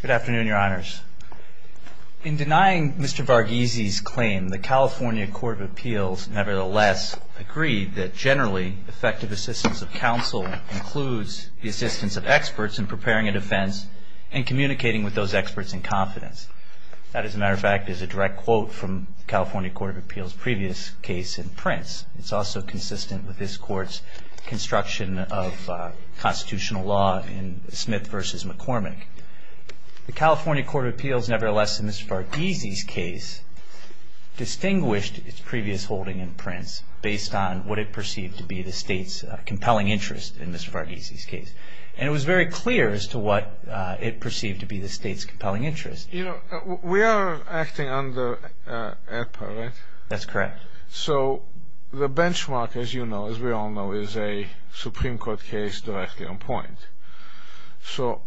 Good afternoon, Your Honors. In denying Mr. Varghese's claim, the California Court of Appeals nevertheless agreed that generally effective assistance of counsel includes the assistance of experts in preparing a defense and communicating with those experts in confidence. That, as a matter of fact, is a direct quote from the California Court of Appeals' previous case in Prince. It's also consistent with this Court's construction of constitutional law in Smith v. McCormick. The California Court of Appeals nevertheless, in Mr. Varghese's case, distinguished its previous holding in Prince based on what it perceived to be the state's compelling interest in Mr. Varghese's case. And it was very clear as to what it perceived to be the state's compelling interest. You know, we are acting under APA, right? That's correct. So the benchmark, as you know, as we all know, is a Supreme Court case directly on point. So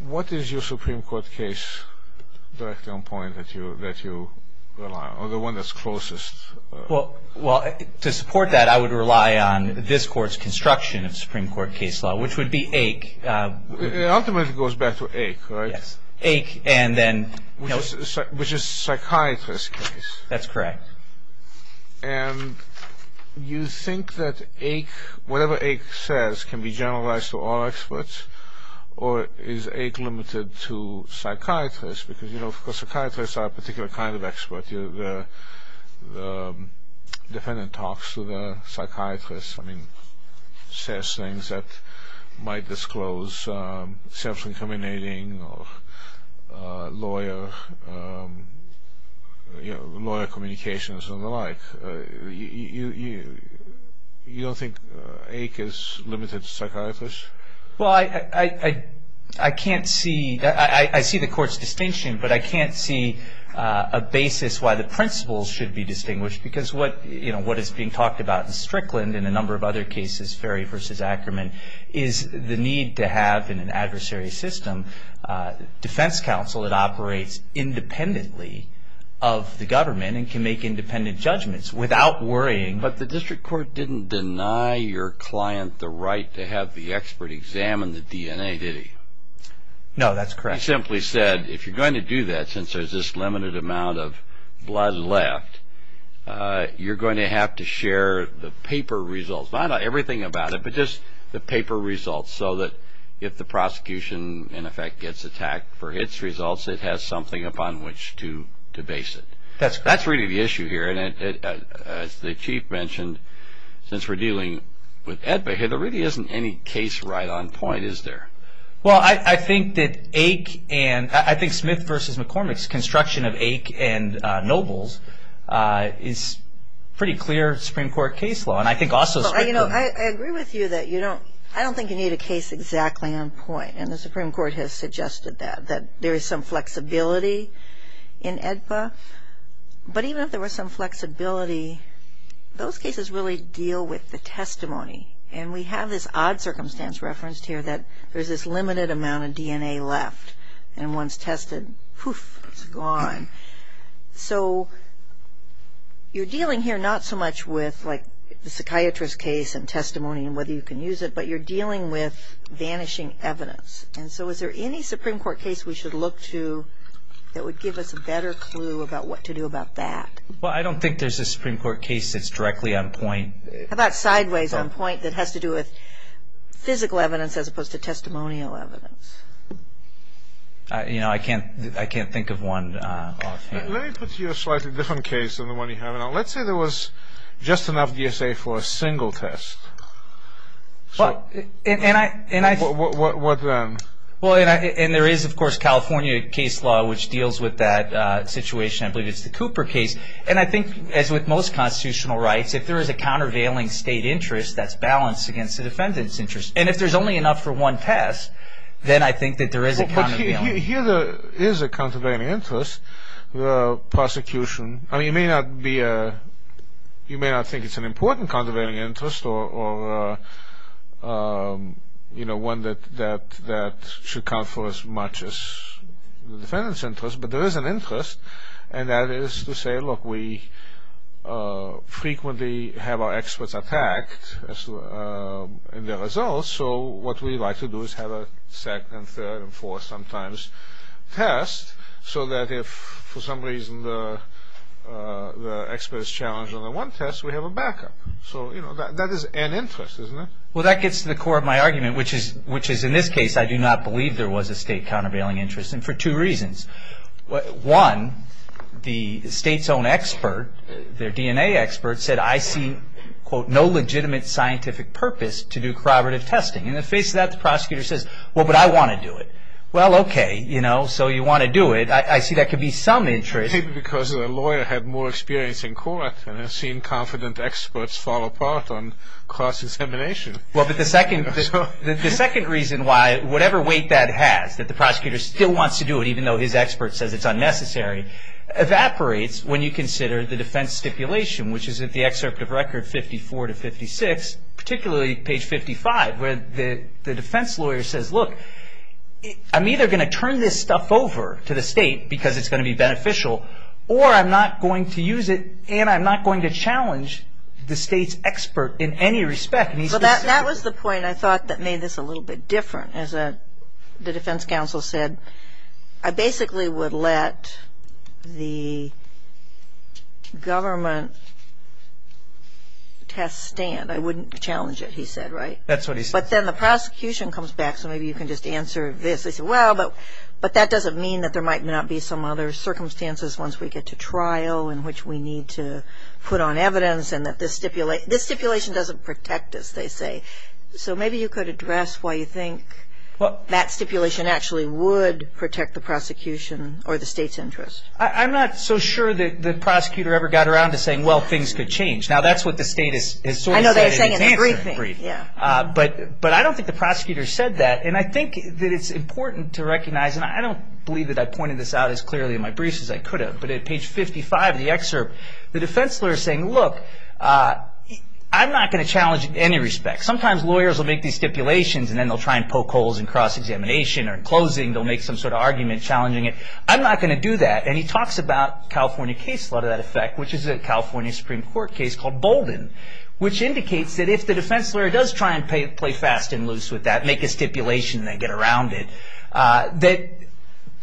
what is your Supreme Court case directly on point that you rely on, or the one that's closest? Well, to support that, I would rely on this Court's construction of Supreme Court case law, which would be Ake. Ultimately, it goes back to Ake, right? Yes. Ake, and then... Which is a psychiatrist's case. That's correct. And you think that Ake, whatever Ake says, can be generalized to all experts, or is Ake limited to psychiatrists? Because, you know, psychiatrists are a particular kind of expert. The defendant talks to the psychiatrist, I mean, says things that might disclose self-incriminating or lawyer communications and the like. You don't think Ake is limited to psychiatrists? Well, I can't see... I see the Court's distinction, but I can't see a basis why the principles should be distinguished. Because what is being talked about in Strickland and a number of other cases, Ferry v. Ackerman, is the need to have, in an adversary system, defense counsel that operates independently of the government and can make independent judgments without worrying. But the district court didn't deny your client the right to have the expert examine the DNA, did he? No, that's correct. He simply said, if you're going to do that, since there's this limited amount of blood left, you're going to have to share the paper results. Not everything about it, but just the paper results, so that if the prosecution, in effect, gets attacked for its results, it has something upon which to debase it. That's correct. There's another issue here, and as the Chief mentioned, since we're dealing with AEDPA here, there really isn't any case right on point, is there? Well, I think that Smith v. McCormick's construction of Ake and Nobles is pretty clear Supreme Court case law. And I think also... I agree with you that you don't... I don't think you need a case exactly on point, and the Supreme Court has suggested that, that there is some flexibility in AEDPA. But even if there was some flexibility, those cases really deal with the testimony. And we have this odd circumstance referenced here that there's this limited amount of DNA left, and once tested, poof, it's gone. So you're dealing here not so much with, like, the psychiatrist case and testimony and whether you can use it, but you're dealing with vanishing evidence. And so is there any Supreme Court case we should look to that would give us a better clue about what to do about that? Well, I don't think there's a Supreme Court case that's directly on point. How about sideways on point that has to do with physical evidence as opposed to testimonial evidence? You know, I can't think of one offhand. Let me put to you a slightly different case than the one you have now. Let's say there was just enough DSA for a single test. What then? Well, and there is, of course, California case law, which deals with that situation. I believe it's the Cooper case. And I think, as with most constitutional rights, if there is a countervailing state interest, that's balanced against the defendant's interest. And if there's only enough for one test, then I think that there is a countervailing interest. Well, but here there is a countervailing interest, the prosecution. I mean, you may not think it's an important countervailing interest or one that should count for as much as the defendant's interest, but there is an interest. And that is to say, look, we frequently have our experts attacked in their results, so what we like to do is have a second and third and fourth sometimes test so that if, for some reason, the expert is challenged on the one test, we have a backup. So, you know, that is an interest, isn't it? Well, that gets to the core of my argument, which is, in this case, I do not believe there was a state countervailing interest, and for two reasons. One, the state's own expert, their DNA expert, said, I see, quote, no legitimate scientific purpose to do corroborative testing. In the face of that, the prosecutor says, well, but I want to do it. Well, okay, you know, so you want to do it. I see that could be some interest. Maybe because the lawyer had more experience in court and has seen confident experts fall apart on cross-examination. Well, but the second reason why whatever weight that has, that the prosecutor still wants to do it even though his expert says it's unnecessary, evaporates when you consider the defense stipulation, which is in the excerpt of record 54 to 56, particularly page 55, where the defense lawyer says, look, I'm either going to turn this stuff over to the state because it's going to be beneficial, or I'm not going to use it and I'm not going to challenge the state's expert in any respect. Well, that was the point I thought that made this a little bit different. As the defense counsel said, I basically would let the government test stand. I wouldn't challenge it, he said, right? That's what he said. But then the prosecution comes back, so maybe you can just answer this. They say, well, but that doesn't mean that there might not be some other circumstances once we get to trial in which we need to put on evidence and that this stipulation doesn't protect us, they say. So maybe you could address why you think that stipulation actually would protect the prosecution or the state's interest. I'm not so sure that the prosecutor ever got around to saying, well, things could change. Now, that's what the state has sort of said in its answer brief. But I don't think the prosecutor said that. And I think that it's important to recognize, and I don't believe that I pointed this out as clearly in my briefs as I could have, but at page 55 of the excerpt, the defense lawyer is saying, look, I'm not going to challenge it in any respect. Sometimes lawyers will make these stipulations and then they'll try and poke holes in cross-examination or in closing. They'll make some sort of argument challenging it. I'm not going to do that. And he talks about California case law to that effect, which is a California Supreme Court case called Bolden, which indicates that if the defense lawyer does try and play fast and loose with that, make a stipulation and then get around it, that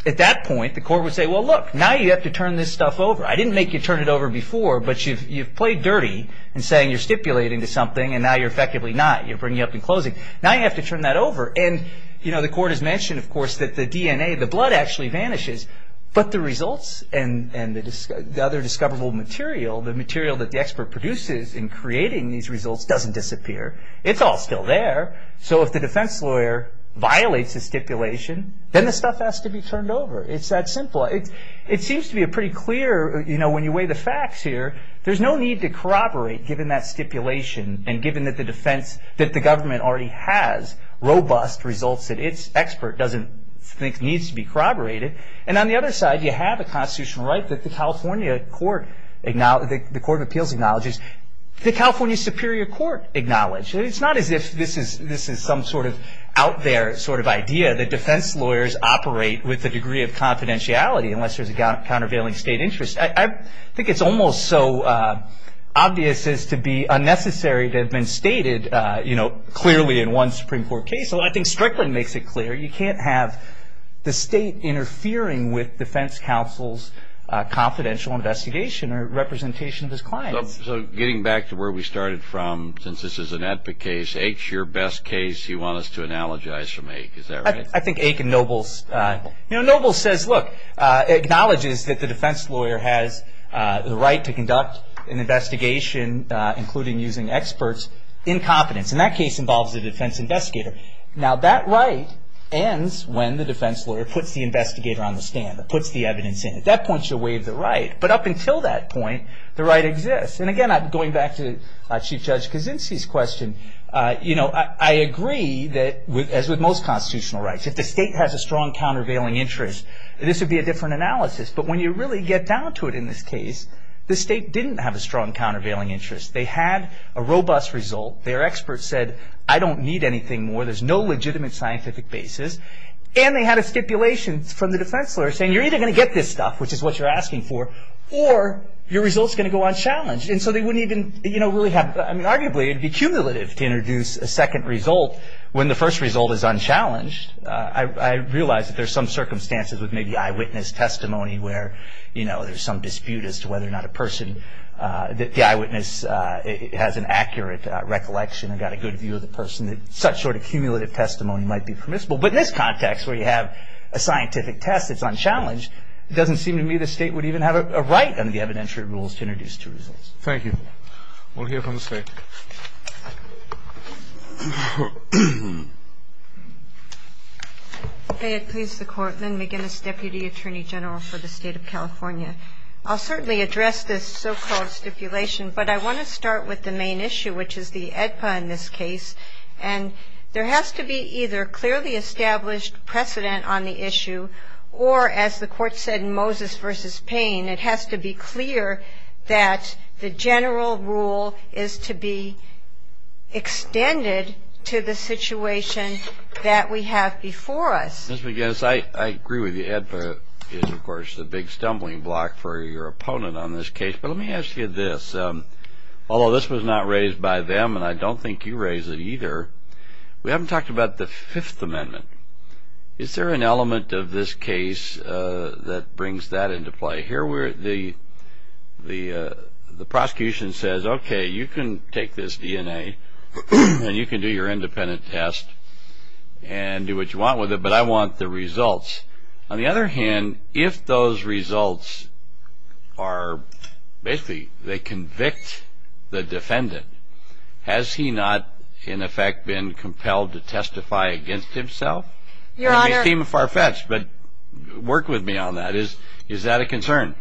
at that point the court would say, well, look, now you have to turn this stuff over. I didn't make you turn it over before, but you've played dirty in saying you're stipulating to something and now you're effectively not. You're bringing up the closing. Now you have to turn that over. And the court has mentioned, of course, that the DNA, the blood actually vanishes, but the results and the other discoverable material, the material that the expert produces in creating these results doesn't disappear. It's all still there. So if the defense lawyer violates a stipulation, then the stuff has to be turned over. It's that simple. It seems to be a pretty clear, you know, when you weigh the facts here, there's no need to corroborate given that stipulation and given that the defense, that the government already has robust results that its expert doesn't think needs to be corroborated. And on the other side, you have a constitutional right that the California Court of Appeals acknowledges, the California Superior Court acknowledges. It's not as if this is some sort of out there sort of idea that defense lawyers operate with a degree of confidentiality unless there's a countervailing state interest. I think it's almost so obvious as to be unnecessary to have been stated, you know, clearly in one Supreme Court case. I think Strickland makes it clear. You can't have the state interfering with defense counsel's confidential investigation or representation of his clients. So getting back to where we started from, since this is an epic case, Ake's your best case. You want us to analogize from Ake. Is that right? I think Ake and Nobles, you know, Nobles says, look, acknowledges that the defense lawyer has the right to conduct an investigation, including using experts, in confidence. And that case involves a defense investigator. Now, that right ends when the defense lawyer puts the investigator on the stand, puts the evidence in. At that point, you waive the right. But up until that point, the right exists. And, again, going back to Chief Judge Kuczynski's question, you know, I agree that, as with most constitutional rights, if the state has a strong countervailing interest, this would be a different analysis. But when you really get down to it in this case, the state didn't have a strong countervailing interest. They had a robust result. Their experts said, I don't need anything more. There's no legitimate scientific basis. And they had a stipulation from the defense lawyer saying, you're either going to get this stuff, which is what you're asking for, or your result's going to go unchallenged. And so they wouldn't even, you know, really have, I mean, arguably it would be cumulative to introduce a second result when the first result is unchallenged. I realize that there's some circumstances with maybe eyewitness testimony where, you know, there's some dispute as to whether or not a person, the eyewitness has an accurate recollection and got a good view of the person that such sort of cumulative testimony might be permissible. But in this context where you have a scientific test that's unchallenged, it doesn't seem to me the state would even have a right under the evidentiary rules to introduce two results. Thank you. We'll hear from the state. May it please the Court, Len McGinnis, Deputy Attorney General for the State of California. I'll certainly address this so-called stipulation, but I want to start with the main issue, which is the AEDPA in this case. And there has to be either clearly established precedent on the issue, or as the Court said in Moses v. Payne, it has to be clear that the general rule is to be extended to the situation that we have before us. Mr. McGinnis, I agree with you. AEDPA is, of course, the big stumbling block for your opponent on this case. But let me ask you this. Although this was not raised by them, and I don't think you raised it either, we haven't talked about the Fifth Amendment. Is there an element of this case that brings that into play? Here the prosecution says, okay, you can take this DNA, and you can do your independent test and do what you want with it, but I want the results. On the other hand, if those results are basically they convict the defendant, has he not, in effect, been compelled to testify against himself? Your Honor. It may seem far-fetched, but work with me on that. Is that a concern?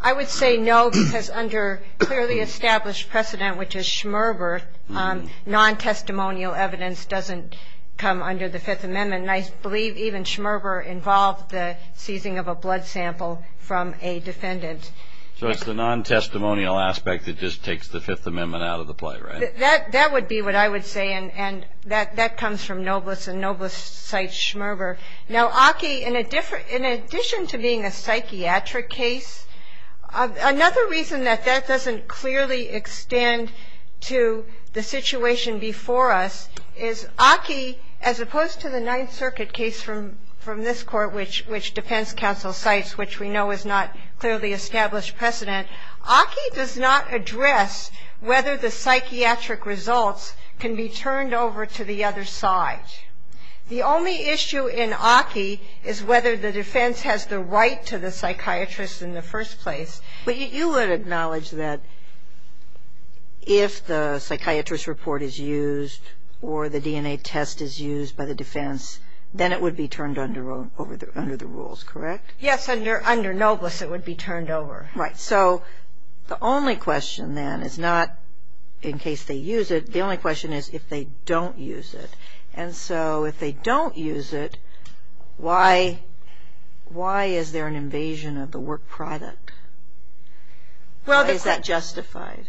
I would say no, because under clearly established precedent, which is Schmerber, non-testimonial evidence doesn't come under the Fifth Amendment. And I believe even Schmerber involved the seizing of a blood sample from a defendant. So it's the non-testimonial aspect that just takes the Fifth Amendment out of the play, right? That would be what I would say, and that comes from Noblis, and Noblis cites Schmerber. Now, Aki, in addition to being a psychiatric case, another reason that that doesn't clearly extend to the situation before us is Aki, as opposed to the Ninth Circuit case from this Court, which defense counsel cites, which we know is not clearly established precedent, Aki does not address whether the psychiatric results can be turned over to the other side. The only issue in Aki is whether the defense has the right to the psychiatrist in the first place. But you would acknowledge that if the psychiatrist report is used or the DNA test is used by the defense, then it would be turned under the rules, correct? Yes. Under Noblis, it would be turned over. Right. So the only question then is not in case they use it. The only question is if they don't use it. And so if they don't use it, why is there an invasion of the work product? Why is that justified?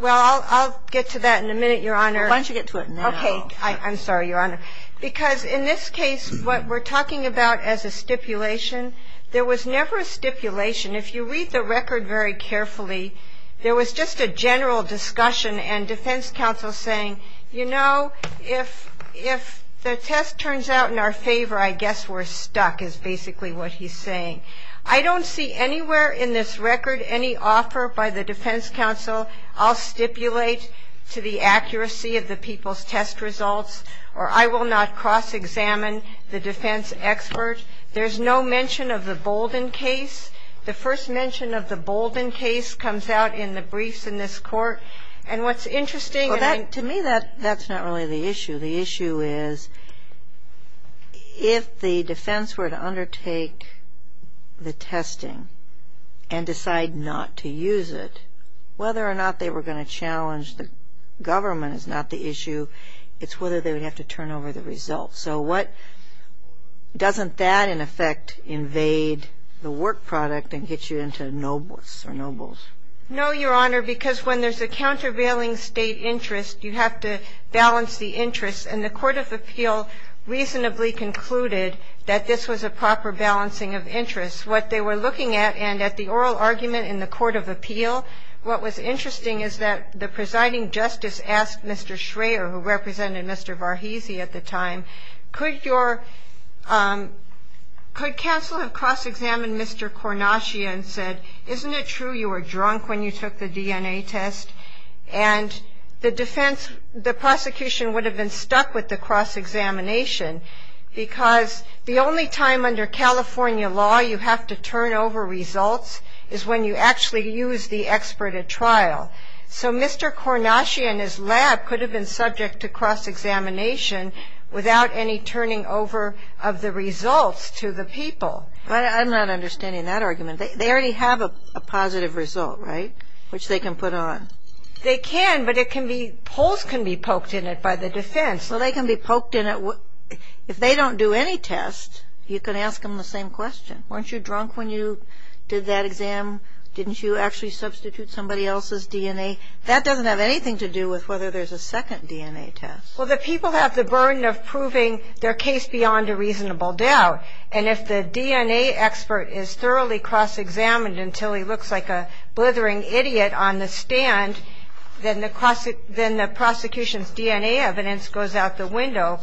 Well, I'll get to that in a minute, Your Honor. Why don't you get to it now? Okay. I'm sorry, Your Honor. Because in this case, what we're talking about as a stipulation, there was never a stipulation. If you read the record very carefully, there was just a general discussion and defense counsel saying, you know, if the test turns out in our favor, I guess we're stuck is basically what he's saying. I don't see anywhere in this record any offer by the defense counsel, I'll stipulate to the accuracy of the people's test results, or I will not cross-examine the defense expert. There's no mention of the Bolden case. The first mention of the Bolden case comes out in the briefs in this court. And what's interesting, and I'm — Well, to me, that's not really the issue. The issue is if the defense were to undertake the testing and decide not to use it, whether or not they were going to challenge the government is not the issue. It's whether they would have to turn over the results. So what — doesn't that, in effect, invade the work product and get you into nobles or nobles? No, Your Honor, because when there's a countervailing state interest, you have to balance the interests. And the court of appeal reasonably concluded that this was a proper balancing of interests. What they were looking at, and at the oral argument in the court of appeal, what was interesting is that the presiding justice asked Mr. Schraer, who represented Mr. Varghese at the time, could your — And the defense — the prosecution would have been stuck with the cross-examination because the only time under California law you have to turn over results is when you actually use the expert at trial. So Mr. Kornatje and his lab could have been subject to cross-examination without any turning over of the results to the people. I'm not understanding that argument. They already have a positive result, right, which they can put on. They can, but it can be — polls can be poked in it by the defense. Well, they can be poked in it. If they don't do any test, you can ask them the same question. Weren't you drunk when you did that exam? Didn't you actually substitute somebody else's DNA? That doesn't have anything to do with whether there's a second DNA test. Well, the people have the burden of proving their case beyond a reasonable doubt. And if the DNA expert is thoroughly cross-examined until he looks like a blithering idiot on the stand, then the prosecution's DNA evidence goes out the window.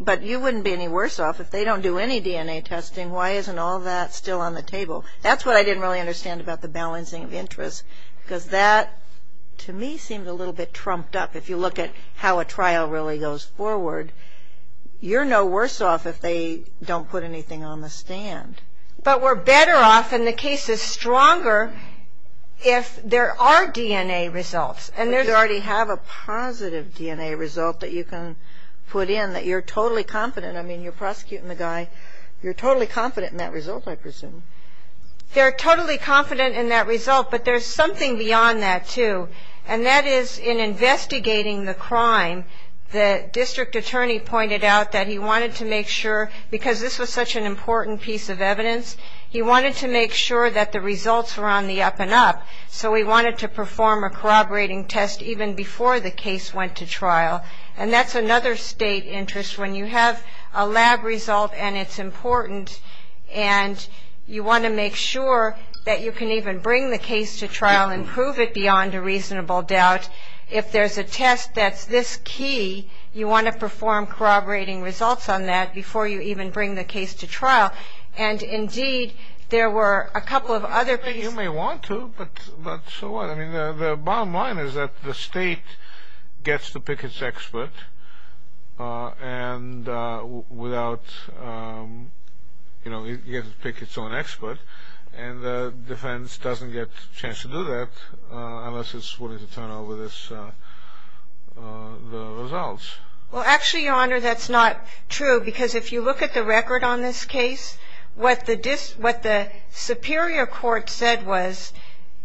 But you wouldn't be any worse off if they don't do any DNA testing. Why isn't all that still on the table? That's what I didn't really understand about the balancing of interests because that, to me, seemed a little bit trumped up. If you look at how a trial really goes forward, you're no worse off if they don't put anything on the stand. But we're better off and the case is stronger if there are DNA results. But you already have a positive DNA result that you can put in, that you're totally confident. I mean, you're prosecuting the guy. You're totally confident in that result, I presume. They're totally confident in that result, but there's something beyond that, too. And that is in investigating the crime, the district attorney pointed out that he wanted to make sure, because this was such an important piece of evidence, he wanted to make sure that the results were on the up-and-up. So he wanted to perform a corroborating test even before the case went to trial. And that's another state interest. When you have a lab result and it's important, beyond a reasonable doubt, if there's a test that's this key, you want to perform corroborating results on that before you even bring the case to trial. And, indeed, there were a couple of other pieces. You may want to, but so what? I mean, the bottom line is that the state gets to pick its expert, and without, you know, it gets to pick its own expert. And the defense doesn't get a chance to do that unless it's willing to turn over the results. Well, actually, Your Honor, that's not true, because if you look at the record on this case, what the superior court said was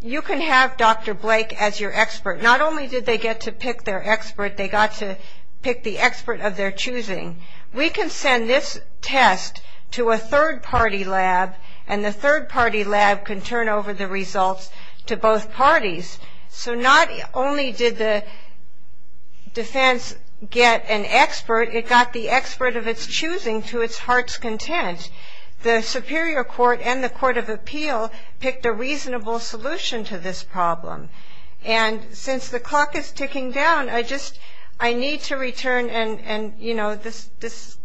you can have Dr. Blake as your expert. Not only did they get to pick their expert, they got to pick the expert of their choosing. We can send this test to a third-party lab, and the third-party lab can turn over the results to both parties. So not only did the defense get an expert, it got the expert of its choosing to its heart's content. The superior court and the court of appeal picked a reasonable solution to this problem. And since the clock is ticking down, I just need to return, and, you know, this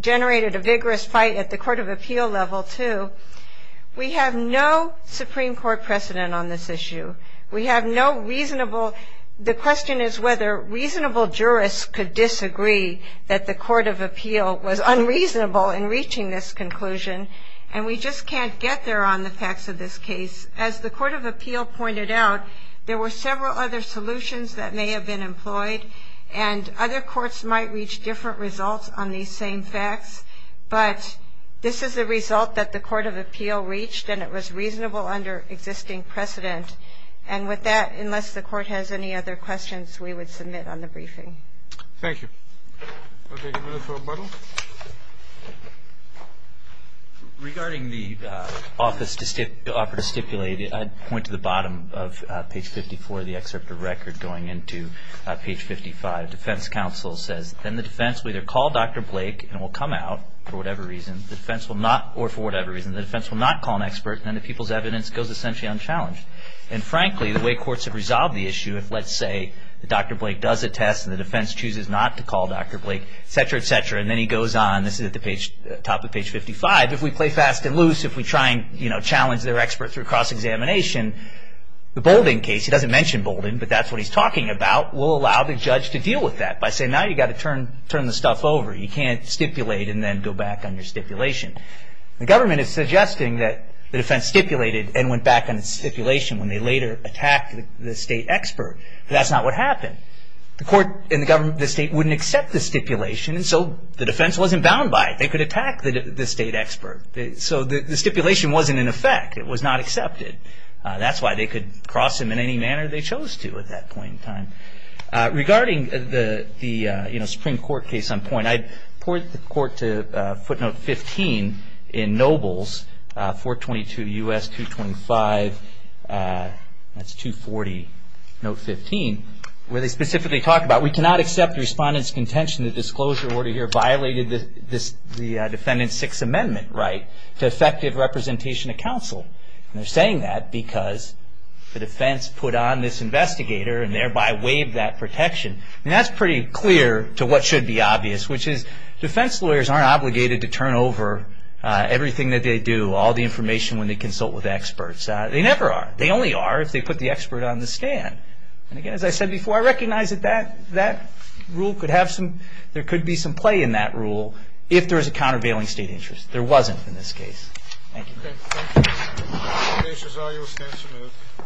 generated a vigorous fight at the court of appeal level, too. We have no Supreme Court precedent on this issue. We have no reasonable ‑‑ the question is whether reasonable jurists could disagree that the court of appeal was unreasonable in reaching this conclusion, and we just can't get there on the facts of this case. As the court of appeal pointed out, there were several other solutions that may have been employed, and other courts might reach different results on these same facts, but this is the result that the court of appeal reached, and it was reasonable under existing precedent. And with that, unless the court has any other questions, we would submit on the briefing. Thank you. We'll take a minute for rebuttal. Regarding the offer to stipulate, I'd point to the bottom of page 54, the excerpt of record going into page 55. Defense counsel says, then the defense will either call Dr. Blake and will come out for whatever reason, or for whatever reason, the defense will not call an expert, and then the people's evidence goes essentially unchallenged. And frankly, the way courts have resolved the issue, if, let's say, Dr. Blake does a test and the defense chooses not to call Dr. Blake, et cetera, et cetera, and then he goes on, this is at the top of page 55, if we play fast and loose, if we try and challenge their expert through cross-examination, the Bolden case, he doesn't mention Bolden, but that's what he's talking about, will allow the judge to deal with that by saying, now you've got to turn the stuff over. You can't stipulate and then go back on your stipulation. The government is suggesting that the defense stipulated and went back on its stipulation when they later attacked the state expert, but that's not what happened. The court and the government of the state wouldn't accept the stipulation, and so the defense wasn't bound by it. They could attack the state expert. So the stipulation wasn't in effect. It was not accepted. That's why they could cross him in any manner they chose to at that point in time. Regarding the Supreme Court case on point, I poured the court to footnote 15 in Nobles 422 U.S. 225, that's 240, note 15, where they specifically talk about, we cannot accept the respondent's contention that the disclosure order here violated the defendant's Sixth Amendment right to effective representation of counsel. They're saying that because the defense put on this investigator and thereby waived that protection. That's pretty clear to what should be obvious, which is defense lawyers aren't obligated to turn over everything that they do, all the information when they consult with experts. They never are. They only are if they put the expert on the stand. And again, as I said before, I recognize that there could be some play in that rule if there is a countervailing state interest. There wasn't in this case. Thank you.